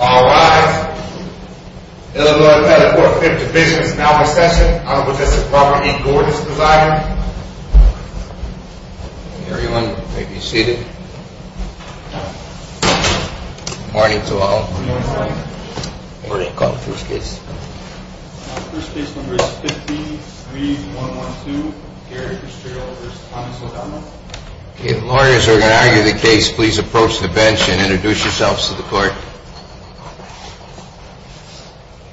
All rise. Eleanor Pettigrew, Fifth Division, is now in session. Honorable Justice Robert E. Gordon is presiding. Everyone may be seated. Good morning to all. Good morning, Your Honor. Where do you call the first case? First case number is 53-112, Gary Fitzgerald v. Thomas O'Donnell. If lawyers are going to argue the case, please approach the bench and introduce yourselves to the court.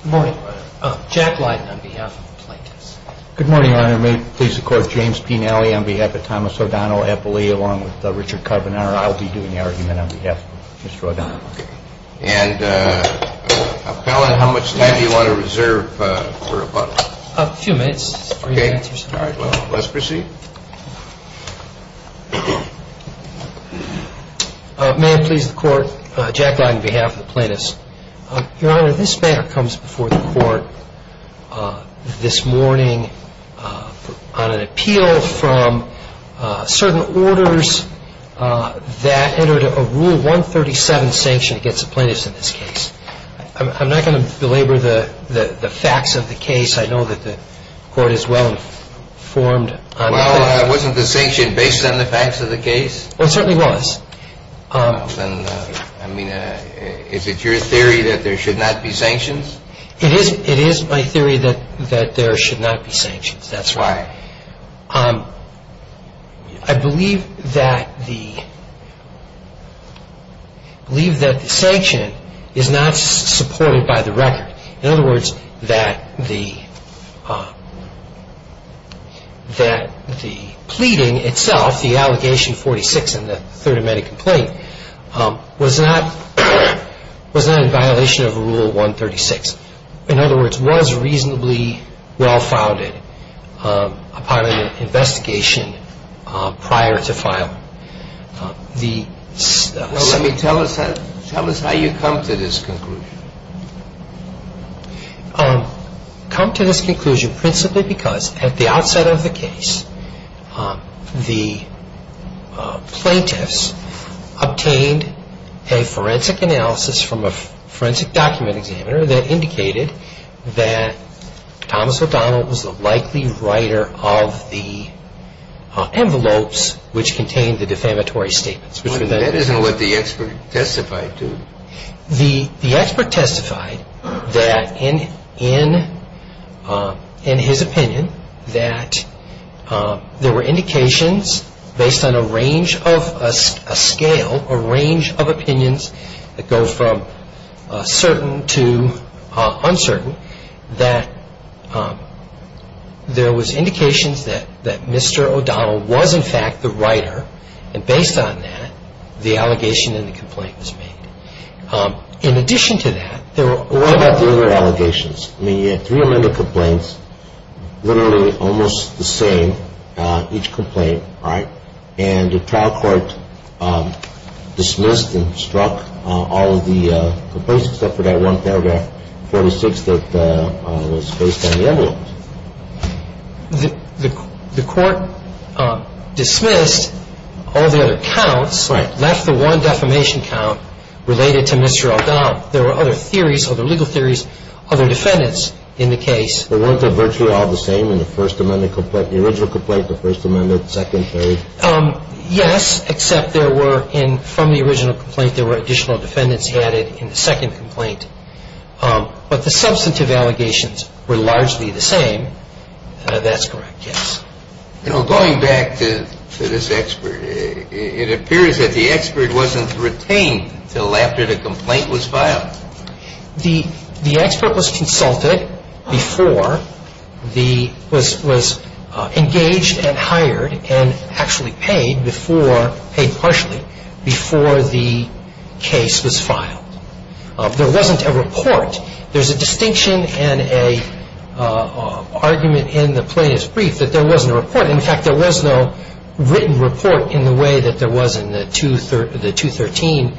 Good morning, Your Honor. Jack Lydon on behalf of the plaintiffs. Good morning, Your Honor. May it please the Court, James P. Nally on behalf of Thomas O'Donnell, appellee along with Richard Carbonaro. I'll be doing the argument on behalf of Mr. O'Donnell. And appellant, how much time do you want to reserve for rebuttal? A few minutes. Okay. All right. Well, let's proceed. May it please the Court, Jack Lydon on behalf of the plaintiffs. Your Honor, this matter comes before the Court this morning on an appeal from certain orders that entered a Rule 137 sanction against the plaintiffs in this case. I'm not going to belabor the facts of the case. I know that the Court is well-informed on that. Well, wasn't the sanction based on the facts of the case? Well, it certainly was. Well, then, I mean, is it your theory that there should not be sanctions? It is my theory that there should not be sanctions. That's right. Why? I believe that the sanction is not supported by the record. In other words, that the pleading itself, the allegation 46 in the third amendment complaint, was not in violation of Rule 136. In other words, was reasonably well-founded upon an investigation prior to filing. Well, let me tell us how you come to this conclusion. I come to this conclusion principally because at the outset of the case, the plaintiffs obtained a forensic analysis from a forensic document examiner that indicated that Thomas O'Donnell was the likely writer of the envelopes which contained the defamatory statements. That isn't what the expert testified to. The expert testified that in his opinion, that there were indications based on a range of a scale, a range of opinions that go from certain to uncertain, that there was indications that Mr. O'Donnell was in fact the writer, and based on that, the allegation in the complaint was made. In addition to that, there were... What about the other allegations? I mean, you had three amendment complaints, literally almost the same, each complaint, right? And the trial court dismissed and struck all of the complaints except for that one paragraph 46 that was based on the envelopes. The court dismissed all the other counts, left the one defamation count related to Mr. O'Donnell. There were other theories, other legal theories, other defendants in the case. But weren't they virtually all the same in the first amendment complaint, the original complaint, the first amendment, the second, third? Yes, except there were, from the original complaint, there were additional defendants added in the second complaint. But the substantive allegations were largely the same. That's correct, yes. You know, going back to this expert, it appears that the expert wasn't retained until after the complaint was filed. The expert was consulted before the... was engaged and hired and actually paid before... paid partially before the case was filed. There wasn't a report. There's a distinction and an argument in the plaintiff's brief that there wasn't a report. In fact, there was no written report in the way that there was in the 213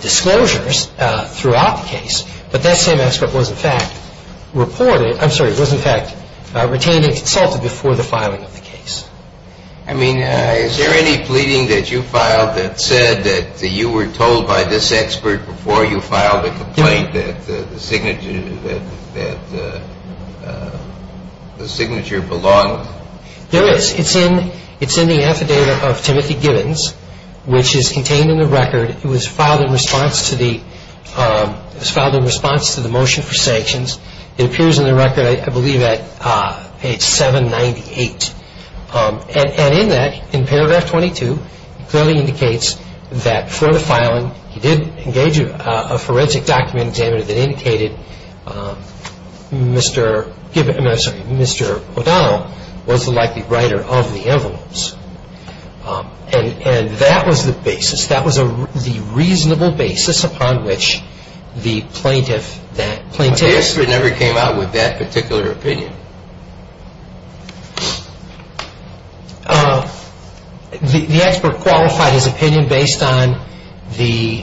disclosures throughout the case. But that same expert was, in fact, reported... I'm sorry, was, in fact, retained and consulted before the filing of the case. I mean... Is there any pleading that you filed that said that you were told by this expert before you filed the complaint that the signature... that the signature belonged? There is. It's in the affidavit of Timothy Gibbons, which is contained in the record. It was filed in response to the motion for sanctions. It appears in the record, I believe, at page 798. And in that, in paragraph 22, it clearly indicates that before the filing, he did engage a forensic document examiner that indicated Mr. Gibbons... I'm sorry, Mr. O'Donnell was the likely writer of the envelopes. And that was the basis. The basis upon which the plaintiff, that plaintiff... But the expert never came out with that particular opinion. The expert qualified his opinion based on the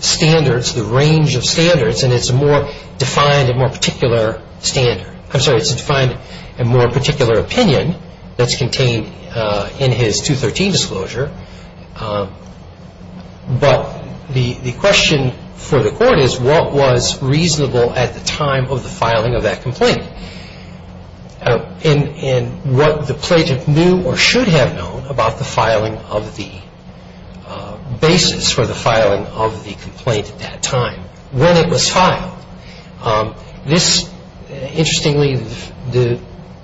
standards, the range of standards, and it's a more defined and more particular standard. I'm sorry, it's a defined and more particular opinion that's contained in his 213 disclosure. But the question for the court is what was reasonable at the time of the filing of that complaint and what the plaintiff knew or should have known about the filing of the basis for the filing of the complaint at that time, when it was filed. This, interestingly, the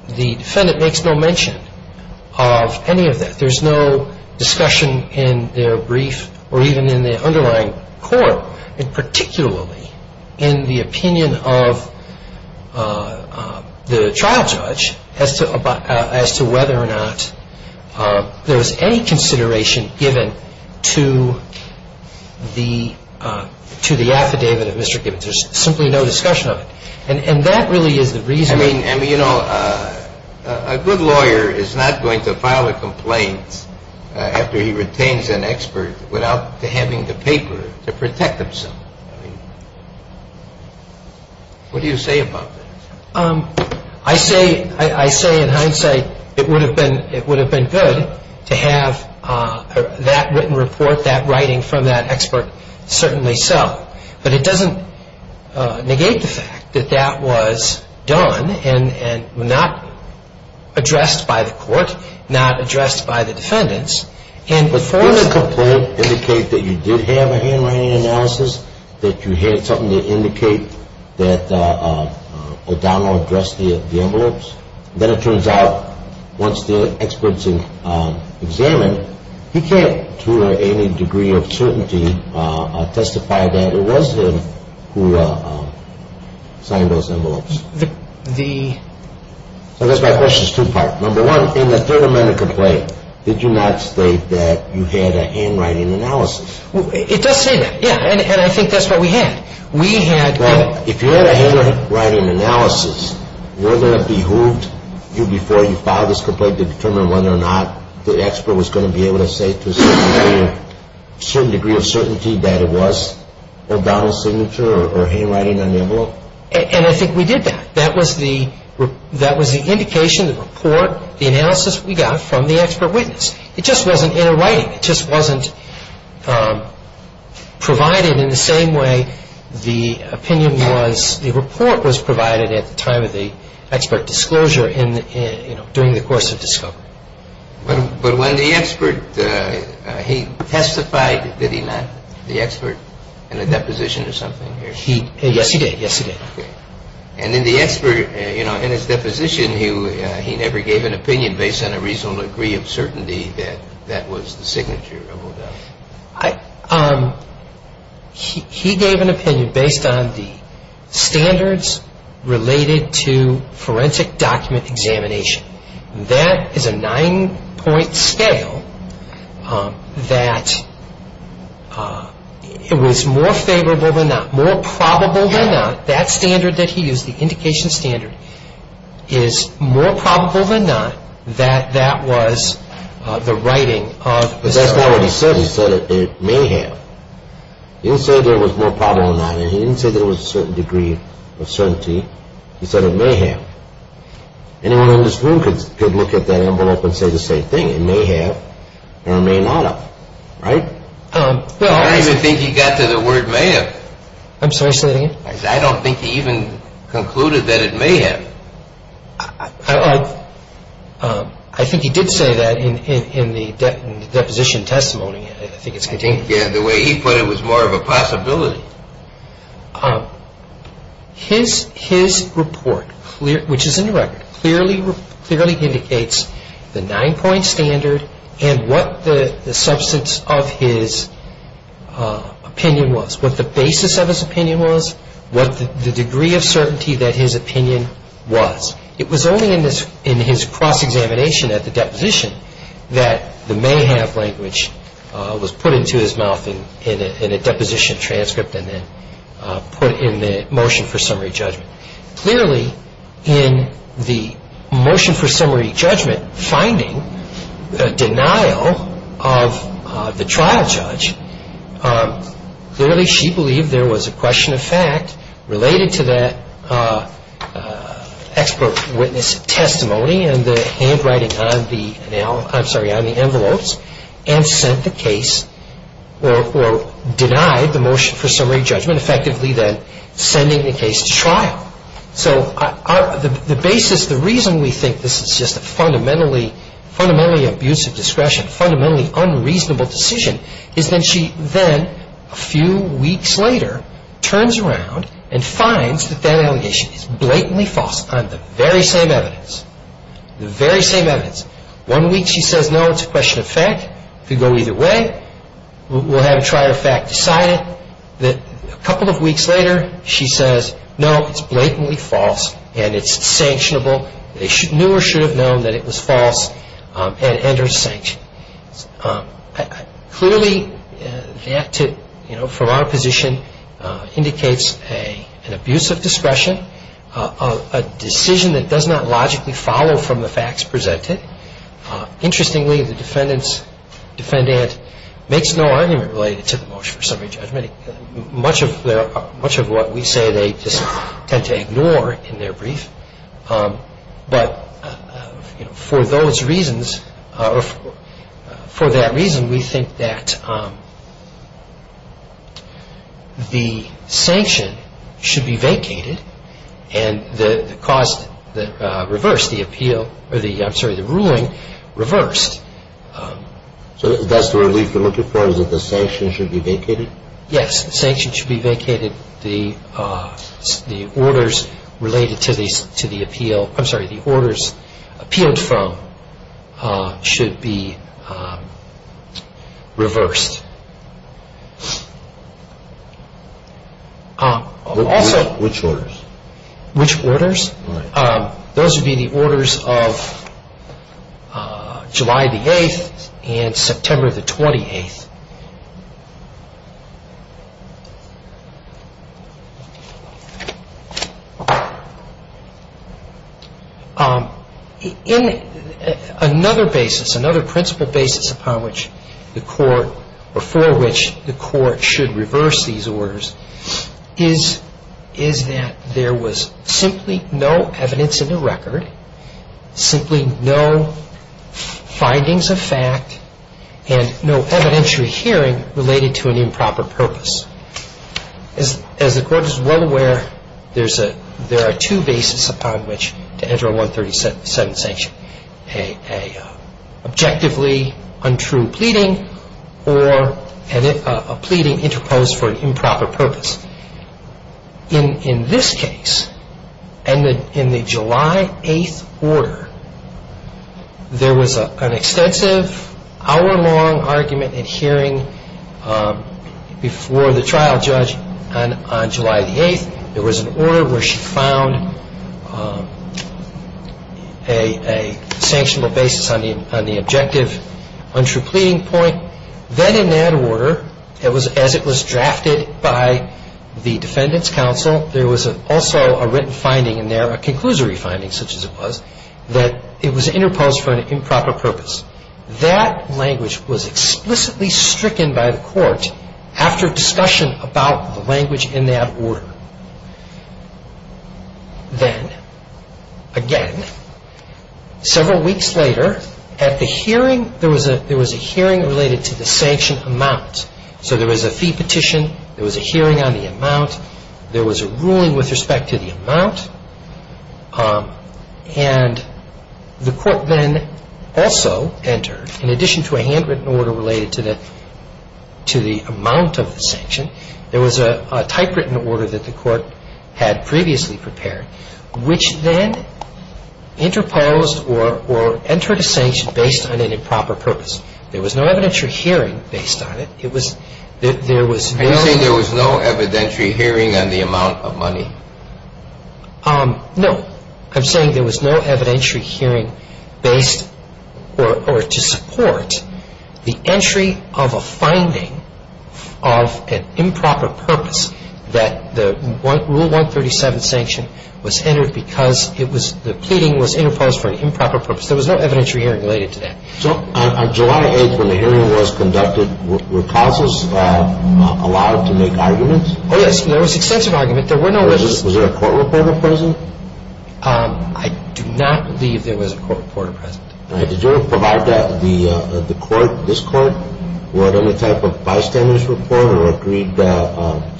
defendant makes no mention of any of that. There's no discussion in their brief or even in the underlying court, and particularly in the opinion of the trial judge as to whether or not there was any consideration given to the affidavit of Mr. Gibbons. There's simply no discussion of it. And that really is the reason... I mean, you know, a good lawyer is not going to file a complaint after he retains an expert without having the paper to protect himself. I mean, what do you say about that? I say in hindsight it would have been good to have that written report, that writing from that expert, certainly so. But it doesn't negate the fact that that was done and not addressed by the court, not addressed by the defendants. But didn't the complaint indicate that you did have a handwriting analysis, that you had something to indicate that O'Donnell addressed the envelopes? Then it turns out once the expert's examined, he can't to any degree of certainty testify that it was him who signed those envelopes. So that's my question, two-part. Number one, in the Third Amendment complaint, did you not state that you had a handwriting analysis? It does say that, yeah, and I think that's what we had. Well, if you had a handwriting analysis, would it have behooved you before you filed this complaint to determine whether or not the expert was going to be able to say to a certain degree of certainty that it was O'Donnell's signature or handwriting on the envelope? And I think we did that. That was the indication, the report, the analysis we got from the expert witness. It just wasn't in a writing. It just wasn't provided in the same way the opinion was, the report was provided at the time of the expert disclosure during the course of discovery. But when the expert, he testified, did he not, the expert, in a deposition or something? Yes, he did. And in the expert, you know, in his deposition, he never gave an opinion based on a reasonable degree of certainty that that was the signature of O'Donnell. He gave an opinion based on the standards related to forensic document examination. That is a nine-point scale that it was more favorable than not, more probable than not, that standard that he used, the indication standard, is more probable than not that that was the writing of the expert. But that's not what he said. He said it may have. He didn't say that it was more probable than not. And he didn't say that it was a certain degree of certainty. He said it may have. Anyone in this room could look at that envelope and say the same thing. It may have or it may not have, right? I don't even think he got to the word may have. I'm sorry, say that again? I don't think he even concluded that it may have. I think he did say that in the deposition testimony. I think it's contained. Yeah, the way he put it was more of a possibility. His report, which is in the record, clearly indicates the nine-point standard and what the substance of his opinion was, what the basis of his opinion was, what the degree of certainty that his opinion was. It was only in his cross-examination at the deposition that the may have language was put into his mouth in a deposition transcript and then put in the motion for summary judgment. Clearly, in the motion for summary judgment, finding a denial of the trial judge, clearly she believed there was a question of fact related to that expert witness testimony and the handwriting on the envelopes and sent the case or denied the motion for summary judgment, effectively then sending the case to trial. So the basis, the reason we think this is just a fundamentally abusive discretion, fundamentally unreasonable decision is that she then, a few weeks later, turns around and finds that that allegation is blatantly false on the very same evidence. The very same evidence. One week she says, no, it's a question of fact. If you go either way, we'll have a trial of fact decided. A couple of weeks later, she says, no, it's blatantly false and it's sanctionable. They knew or should have known that it was false and are sanctioned. Clearly, that, from our position, indicates an abusive discretion, a decision that does not logically follow from the facts presented. Interestingly, the defendant makes no argument related to the motion for summary judgment. Much of what we say they just tend to ignore in their brief. But for those reasons, for that reason, we think that the sanction should be vacated and the ruling reversed. So that's the relief you're looking for, is that the sanction should be vacated? Yes, the sanction should be vacated. The orders related to the appeal, I'm sorry, the orders appealed from should be reversed. Which orders? Those would be the orders of July the 8th and September the 28th. In another basis, another principle basis upon which the court, or for which the court should reverse these orders, is that there was simply no evidence in the record, simply no findings of fact, and no evidentiary hearing related to an improper purpose. As the court is well aware, there are two bases upon which to enter a 137th sanction, a subjectively untrue pleading, or a pleading interposed for an improper purpose. In this case, and in the July 8th order, there was an extensive hour-long argument in hearing before the trial judge on July the 8th. There was an order where she found a sanctionable basis on the objective untrue pleading point. Then in that order, as it was drafted by the defendant's counsel, there was also a written finding in there, a conclusory finding such as it was, that it was interposed for an improper purpose. That language was explicitly stricken by the court after discussion about the language in that order. Then, again, several weeks later at the hearing, there was a hearing related to the sanction amount. So there was a fee petition, there was a hearing on the amount, and the court then also entered, in addition to a handwritten order related to the amount of the sanction, there was a typewritten order that the court had previously prepared, which then interposed or entered a sanction based on an improper purpose. There was no evidentiary hearing based on it. It was, there was no... No. I'm saying there was no evidentiary hearing based or to support the entry of a finding of an improper purpose that the Rule 137 sanction was entered because it was, the pleading was interposed for an improper purpose. There was no evidentiary hearing related to that. So on July 8th when the hearing was conducted, were counsels allowed to make arguments? Oh, yes. There was extensive argument. There were no witnesses. Was there a court reporter present? I do not believe there was a court reporter present. All right. Did you ever provide that the court, this court, were it any type of bystander's report or agreed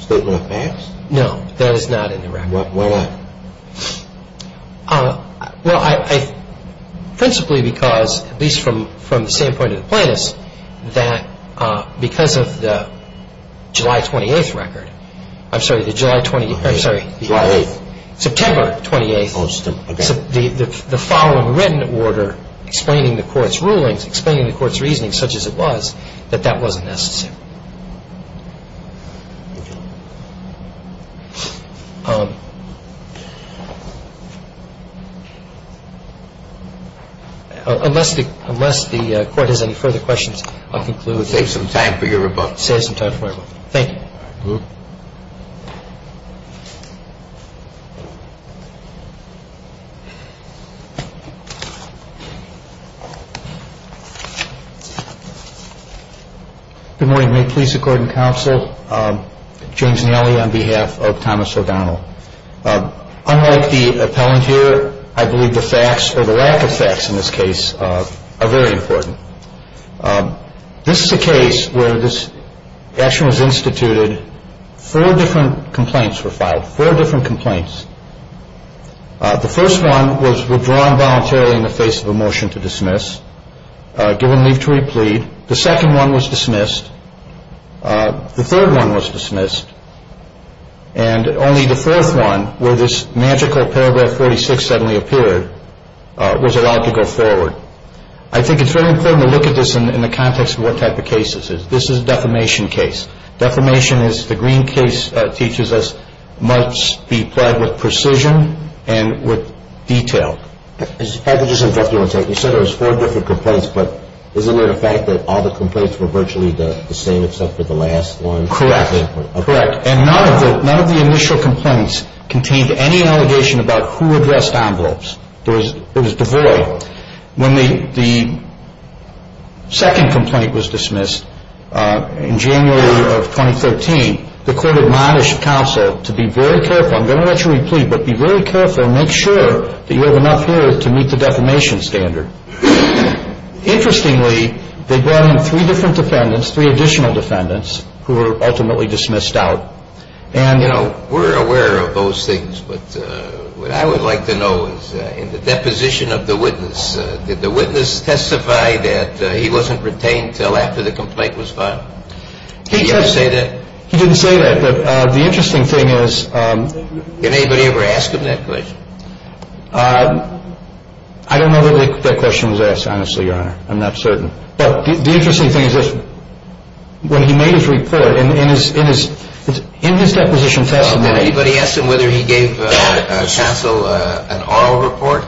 statement of facts? No. That is not in the record. Why not? Well, I, principally because, at least from the standpoint of the plaintiffs, that because of the July 28th record, I'm sorry, the July 28th, I'm sorry. July 8th. September 28th. Oh, September, okay. The following written order explaining the court's rulings, explaining the court's reasoning such as it was, that that wasn't necessary. Okay. All right. Thank you. Unless the, unless the court has any further questions, I'll conclude. Let's save some time for your rebuff. Save some time for your rebuff. Thank you. All right. Good morning. May it please the court and counsel, James Nellie on behalf of Thomas O'Donnell. Unlike the appellant here, I believe the facts or the lack of facts in this case are very important. This is a case where this action was instituted. Four different complaints were filed. Four different complaints. The first one was withdrawn voluntarily in the face of a motion to dismiss, given leave to replead. The second one was dismissed. The third one was dismissed. And only the fourth one, where this magical paragraph 46 suddenly appeared, was allowed to go forward. I think it's very important to look at this in the context of what type of case this is. This is a defamation case. Defamation is, the Green case teaches us, must be plied with precision and with detail. I'd like to just interrupt you one second. You said there was four different complaints, but isn't it a fact that all the complaints were virtually the same, except for the last one? Correct. Correct. And none of the initial complaints contained any allegation about who addressed envelopes. It was devoid. When the second complaint was dismissed in January of 2013, the court admonished counsel to be very careful. I'm going to let you replead, but be very careful and make sure that you have enough here to meet the defamation standard. Interestingly, they brought in three different defendants, three additional defendants, who were ultimately dismissed out. We're aware of those things, but what I would like to know is, in the deposition of the witness, did the witness testify that he wasn't retained until after the complaint was filed? Did he ever say that? He didn't say that, but the interesting thing is – Did anybody ever ask him that question? I don't know that that question was asked, honestly, Your Honor. I'm not certain. But the interesting thing is this. When he made his report, in his deposition testimony – Did anybody ask him whether he gave counsel an oral report?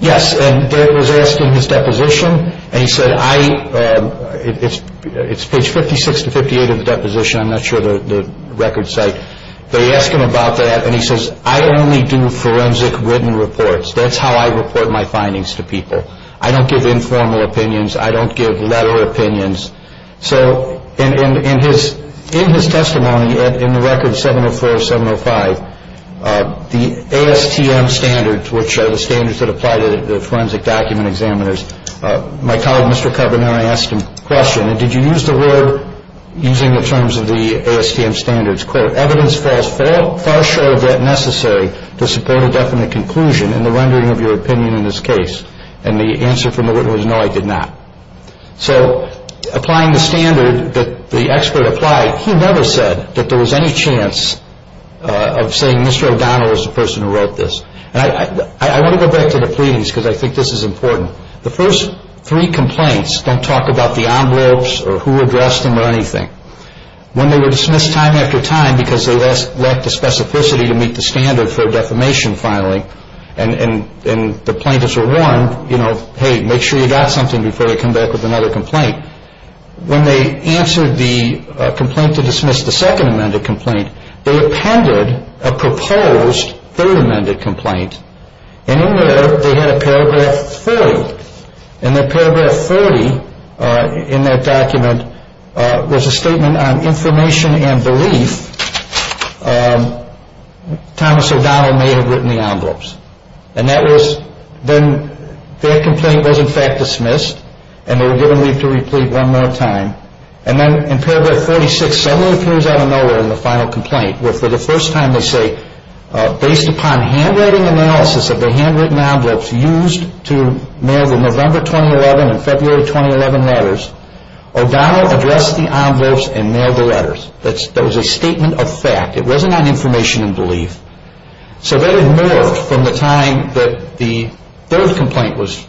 Yes, and they were asking his deposition, and he said, I – it's page 56 to 58 of the deposition, I'm not sure of the record site. They asked him about that, and he says, I only do forensic written reports. That's how I report my findings to people. I don't give informal opinions. I don't give letter opinions. So in his testimony, in the record 704-705, the ASTM standards, which are the standards that apply to the forensic document examiners, my colleague, Mr. Carbonell, asked him a question. And did you use the word – using the terms of the ASTM standards, quote, evidence falls far short of what necessary to support a definite conclusion in the rendering of your opinion in this case? And the answer from the witness was, no, I did not. So applying the standard that the expert applied, he never said that there was any chance of saying, Mr. O'Donnell is the person who wrote this. And I want to go back to the pleadings because I think this is important. The first three complaints don't talk about the envelopes or who addressed them or anything. When they were dismissed time after time because they lacked the specificity to meet the standard for defamation filing, and the plaintiffs were warned, you know, hey, make sure you got something before you come back with another complaint. When they answered the complaint to dismiss the second amended complaint, they appended a proposed third amended complaint. And in there they had a paragraph 40. And that paragraph 40 in that document was a statement on information and belief Thomas O'Donnell may have written the envelopes. And that was then their complaint was in fact dismissed and they were given leave to replete one more time. And then in paragraph 46, someone appears out of nowhere in the final complaint where for the first time they say, based upon handwriting analysis of the handwritten envelopes used to mail the November 2011 and February 2011 letters, O'Donnell addressed the envelopes and mailed the letters. That was a statement of fact. It wasn't on information and belief. So that had morphed from the time that the third complaint was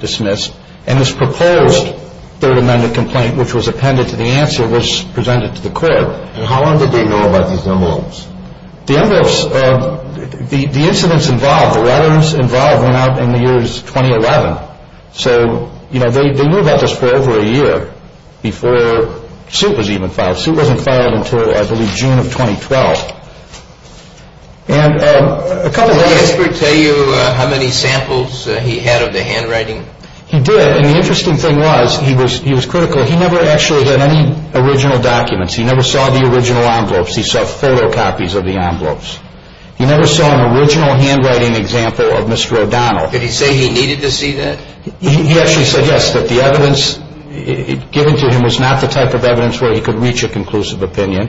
dismissed and this proposed third amended complaint which was appended to the answer was presented to the court. And how long did they know about these envelopes? The envelopes, the incidents involved, the letters involved went out in the years 2011. So, you know, they knew about this for over a year before suit was even filed. Suit wasn't filed until I believe June of 2012. And a couple of letters. Did the expert tell you how many samples he had of the handwriting? He did. And the interesting thing was he was critical. He never actually had any original documents. He never saw the original envelopes. He saw photocopies of the envelopes. He never saw an original handwriting example of Mr. O'Donnell. Did he say he needed to see that? He actually said yes, that the evidence given to him was not the type of evidence where he could reach a conclusive opinion.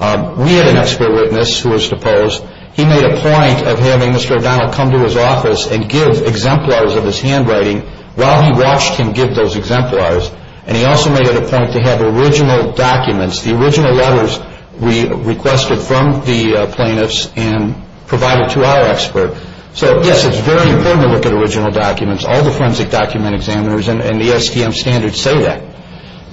We had an expert witness who was deposed. He made a point of having Mr. O'Donnell come to his office and give exemplars of his handwriting while he watched him give those exemplars. And he also made it a point to have original documents, the original letters requested from the plaintiffs and provided to our expert. So, yes, it's very important to look at original documents. All the forensic document examiners and the SDM standards say that.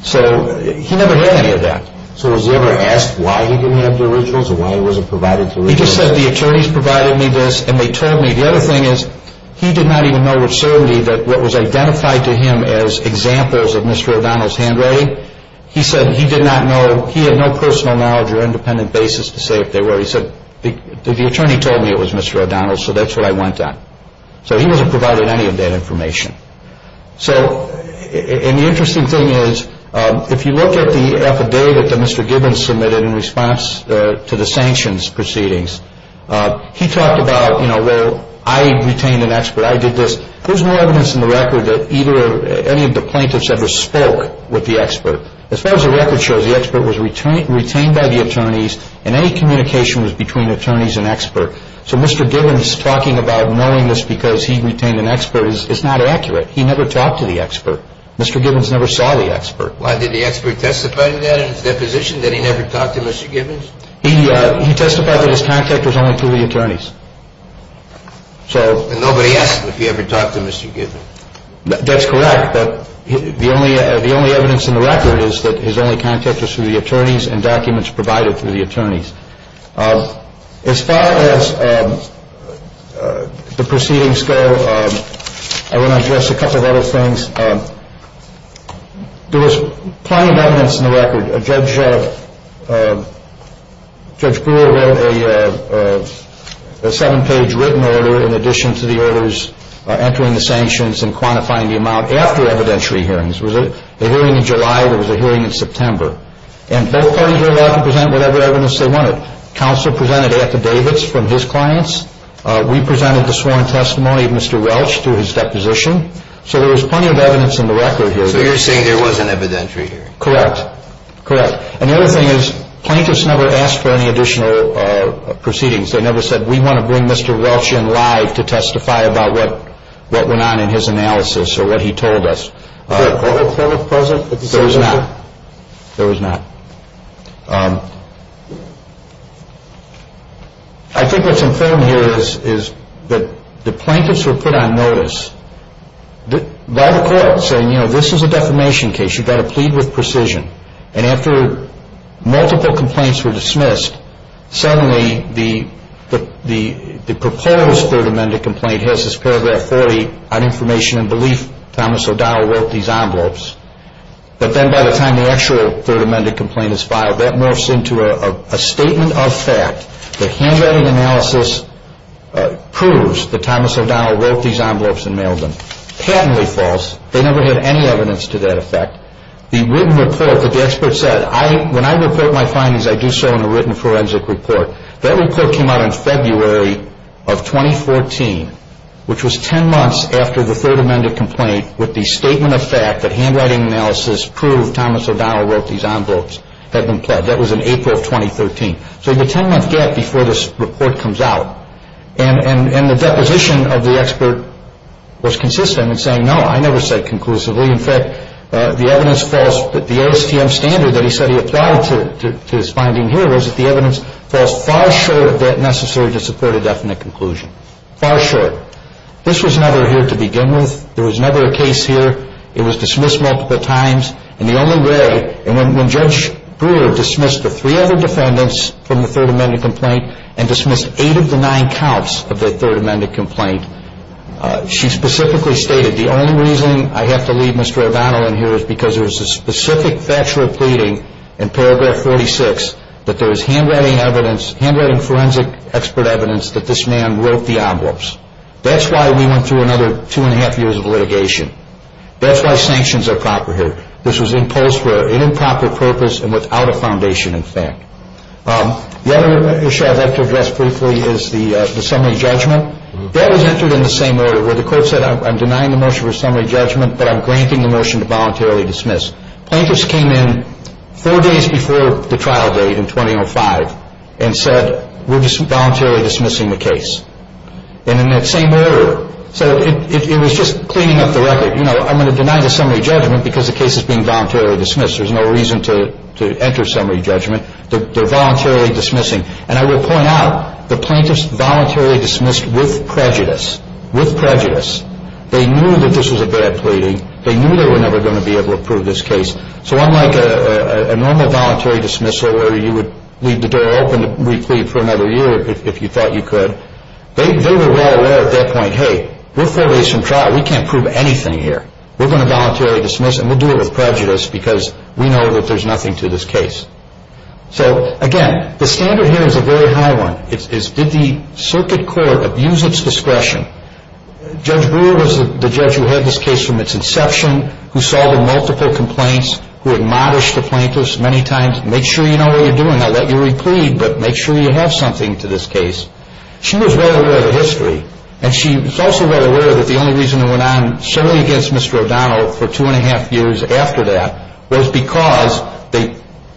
So he never had any of that. So was he ever asked why he didn't have the originals or why he wasn't provided the originals? He just said the attorneys provided me this and they told me. The other thing is he did not even know what served me, what was identified to him as examples of Mr. O'Donnell's handwriting. He said he did not know. He had no personal knowledge or independent basis to say if they were. He said the attorney told me it was Mr. O'Donnell, so that's what I went on. So he wasn't provided any of that information. So, and the interesting thing is if you look at the affidavit that Mr. Gibbons submitted in response to the sanctions proceedings, he talked about, you know, well, I retained an expert. I did this. There's no evidence in the record that either any of the plaintiffs ever spoke with the expert. As far as the record shows, the expert was retained by the attorneys and any communication was between attorneys and expert. So Mr. Gibbons talking about knowing this because he retained an expert is not accurate. He never talked to the expert. Mr. Gibbons never saw the expert. Why, did the expert testify to that in his deposition that he never talked to Mr. Gibbons? He testified that his contact was only through the attorneys. And nobody asked if he ever talked to Mr. Gibbons. That's correct. The only evidence in the record is that his only contact was through the attorneys and documents provided through the attorneys. As far as the proceedings go, I want to address a couple of other things. There was plenty of evidence in the record. Judge Brewer wrote a seven-page written order in addition to the orders entering the sanctions and quantifying the amount after evidentiary hearings. There was a hearing in July. There was a hearing in September. And both parties were allowed to present whatever evidence they wanted. Counsel presented affidavits from his clients. We presented the sworn testimony of Mr. Welch to his deposition. So there was plenty of evidence in the record. So you're saying there was an evidentiary hearing? Correct. Correct. And the other thing is, plaintiffs never asked for any additional proceedings. They never said, we want to bring Mr. Welch in live to testify about what went on in his analysis or what he told us. Was there a court order present at the time? There was not. There was not. I think what's important here is that the plaintiffs were put on notice by the court saying, you know, this is a defamation case. You've got to plead with precision. And after multiple complaints were dismissed, suddenly the proposed Third Amendment complaint has this paragraph 40 on information and belief Thomas O'Donnell wrote these envelopes. But then by the time the actual Third Amendment complaint is filed, that morphs into a statement of fact. The handwriting analysis proves that Thomas O'Donnell wrote these envelopes and mailed them. It's patently false. They never had any evidence to that effect. The written report that the expert said, when I report my findings, I do so in a written forensic report. That report came out in February of 2014, which was 10 months after the Third Amendment complaint with the statement of fact that handwriting analysis proved Thomas O'Donnell wrote these envelopes had been pled. That was in April of 2013. So you have a 10-month gap before this report comes out. And the deposition of the expert was consistent in saying, no, I never said conclusively. In fact, the evidence false, the ASTM standard that he said he applied to his finding here was that the evidence falls far short of that necessary to support a definite conclusion. Far short. This was never here to begin with. There was never a case here. It was dismissed multiple times. And the only way, and when Judge Brewer dismissed the three other defendants from the Third Amendment complaint and dismissed eight of the nine counts of the Third Amendment complaint, she specifically stated, the only reason I have to leave Mr. O'Donnell in here is because there is a specific factual pleading in paragraph 46 that there is handwriting forensic expert evidence that this man wrote the envelopes. That's why we went through another two and a half years of litigation. That's why sanctions are proper here. This was imposed for an improper purpose and without a foundation in fact. The other issue I'd like to address briefly is the summary judgment. That was entered in the same order where the court said, I'm denying the motion for summary judgment, but I'm granting the motion to voluntarily dismiss. Plaintiffs came in four days before the trial date in 2005 and said, we're just voluntarily dismissing the case. And in that same order. So it was just cleaning up the record. You know, I'm going to deny the summary judgment because the case is being voluntarily dismissed. There's no reason to enter summary judgment. They're voluntarily dismissing. And I will point out, the plaintiffs voluntarily dismissed with prejudice. With prejudice. They knew that this was a bad pleading. They knew they were never going to be able to prove this case. So unlike a normal voluntary dismissal where you would leave the door open to re-plead for another year if you thought you could, they were well aware at that point, hey, we're four days from trial, we can't prove anything here. We're going to voluntarily dismiss and we'll do it with prejudice because we know that there's nothing to this case. So, again, the standard here is a very high one. It's did the circuit court abuse its discretion? Judge Brewer was the judge who had this case from its inception, who solved multiple complaints, who admonished the plaintiffs many times, make sure you know what you're doing. I'll let you re-plead, but make sure you have something to this case. She was well aware of the history. And she was also well aware that the only reason it went on solely against Mr. O'Donnell for two and a half years after that was because they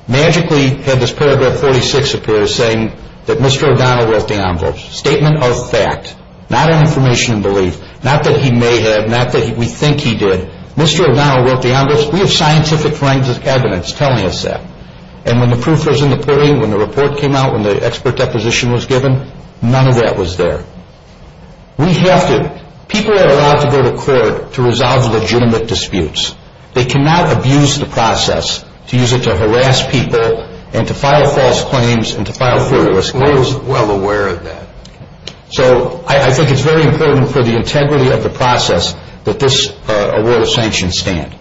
magically had this paragraph 46 appear saying that Mr. O'Donnell wrote the envelopes. Statement of fact. Not an information in belief. Not that he may have. Not that we think he did. Mr. O'Donnell wrote the envelopes. We have scientific evidence telling us that. And when the proof was in the podium, when the report came out, when the expert deposition was given, none of that was there. We have to, people are allowed to go to court to resolve legitimate disputes. They cannot abuse the process to use it to harass people and to file false claims and to file fraudulent claims. She was well aware of that. So I think it's very important for the integrity of the process that this award of sanctions stand.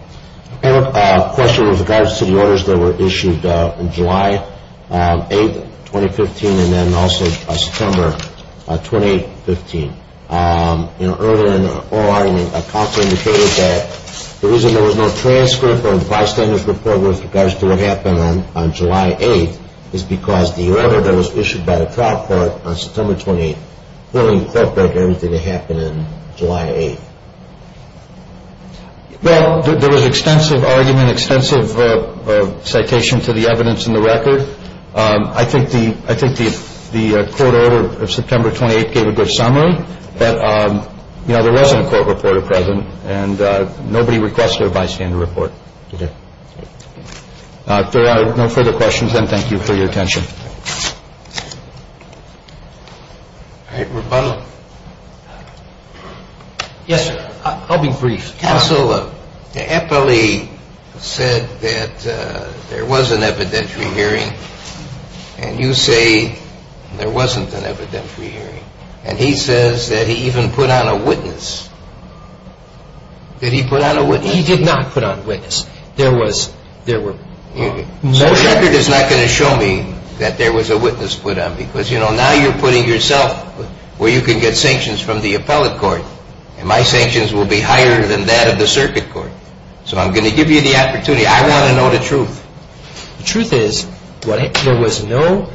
I have a question with regards to the orders that were issued in July 8, 2015, and then also September 28, 2015. Earlier in the oral argument, a counselor indicated that the reason there was no transcript of the bystander's report with regards to what happened on July 8th is because the order that was issued by the trial court on September 28th clearly felt like everything that happened on July 8th. Well, there was extensive argument, extensive citation to the evidence in the record. I think the court order of September 28th gave a good summary. But, you know, there wasn't a court report at present, and nobody requested a bystander report. If there are no further questions, then thank you for your attention. All right, rebuttal. Yes, sir. I'll be brief. Counsel, Eppley said that there was an evidentiary hearing. And you say there wasn't an evidentiary hearing. And he says that he even put on a witness. Did he put on a witness? He did not put on a witness. There were measures. So the record is not going to show me that there was a witness put on, because, you know, now you're putting yourself where you can get sanctions from the appellate court, and my sanctions will be higher than that of the circuit court. So I'm going to give you the opportunity. I want to know the truth. The truth is there was no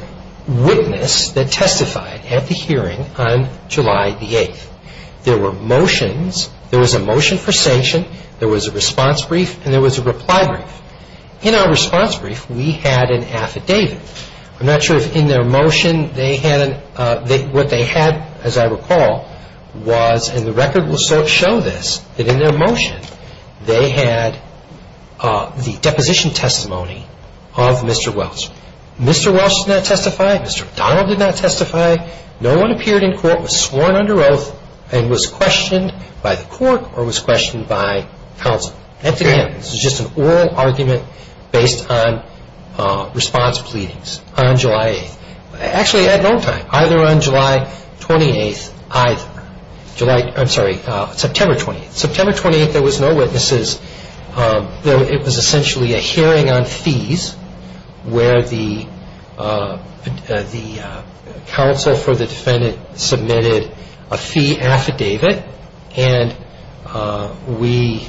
witness that testified at the hearing on July 8th. There were motions. There was a motion for sanction. There was a response brief, and there was a reply brief. In our response brief, we had an affidavit. I'm not sure if in their motion they had, what they had, as I recall, was, and the record will show this, that in their motion they had the deposition testimony of Mr. Welch. Mr. Welch did not testify. Mr. O'Donnell did not testify. No one appeared in court, was sworn under oath, and was questioned by the court or was questioned by counsel. That's it. This is just an oral argument based on response pleadings on July 8th. Actually, at no time, either on July 28th, either. July, I'm sorry, September 28th. September 28th, there was no witnesses. It was essentially a hearing on fees where the counsel for the defendant submitted a fee affidavit, and we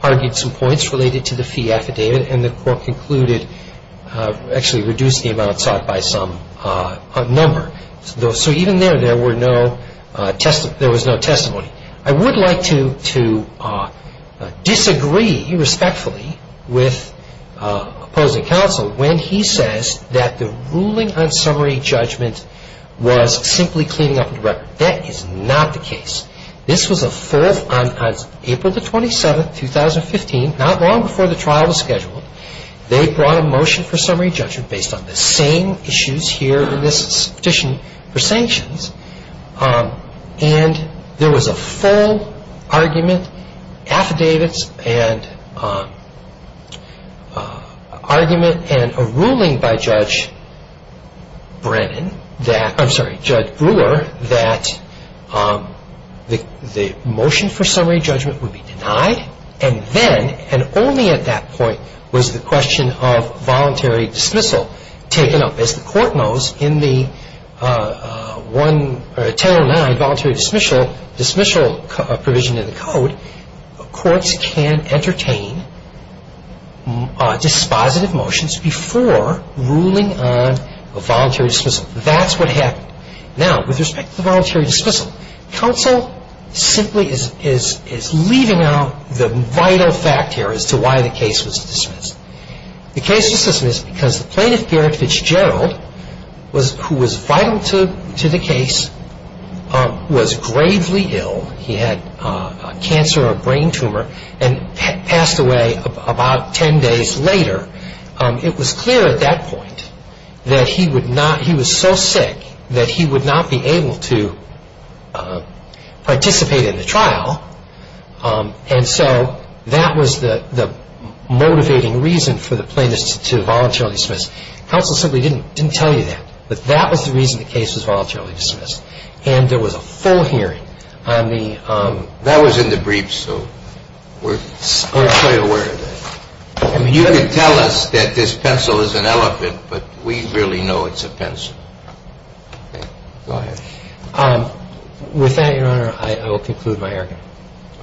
argued some points related to the fee affidavit, and the court concluded, actually reduced the amount sought by some number. So even there, there was no testimony. I would like to disagree respectfully with opposing counsel when he says that the ruling on summary judgment was simply cleaning up the record. That is not the case. This was a full, on April 27th, 2015, not long before the trial was scheduled, they brought a motion for summary judgment based on the same issues here in this petition for sanctions, and there was a full argument, affidavits and argument and a ruling by Judge Brennan that, I'm sorry, Judge Brewer, that the motion for summary judgment would be denied, and then, and only at that point, was the question of voluntary dismissal taken up. As the court knows, in the 1009 voluntary dismissal provision in the code, courts can entertain dispositive motions before ruling on voluntary dismissal. That's what happened. Now, with respect to the voluntary dismissal, counsel simply is leaving out the vital fact here as to why the case was dismissed. The case was dismissed because the plaintiff, Garrett Fitzgerald, who was vital to the case, was gravely ill. He had a cancer or a brain tumor and passed away about 10 days later. It was clear at that point that he was so sick that he would not be able to participate in the trial, and so that was the motivating reason for the plaintiff to voluntarily dismiss. Counsel simply didn't tell you that, but that was the reason the case was voluntarily dismissed, and there was a full hearing on the- That was in the briefs, so we're fairly aware of that. I mean, you could tell us that this pencil is an elephant, but we really know it's a pencil. Go ahead. With that, Your Honor, I will conclude my argument.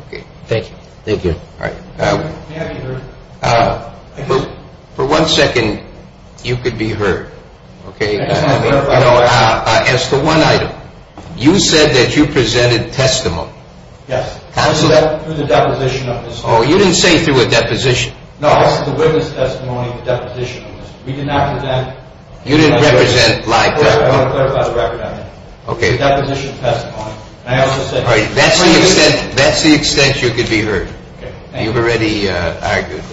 Okay. Thank you. Thank you. All right. May I be heard? For one second, you could be heard. Okay. As to one item, you said that you presented testimony. Yes. Counsel- Through the deposition of his- Oh, you didn't say through a deposition. No, I said the witness testimony, the deposition. We did not present- You didn't represent live testimony. I want to clarify the record on that. Okay. It was a deposition testimony, and I also said- All right. That's the extent you could be heard. Okay. You've already argued.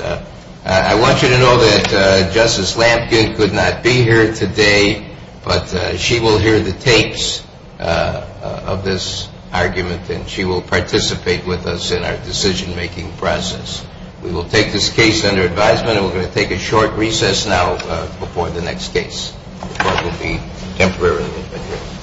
I want you to know that Justice Lamkin could not be here today, but she will hear the tapes of this argument, and she will participate with us in our decision-making process. We will take this case under advisement, and we're going to take a short recess now before the next case. The court will be temporarily adjourned.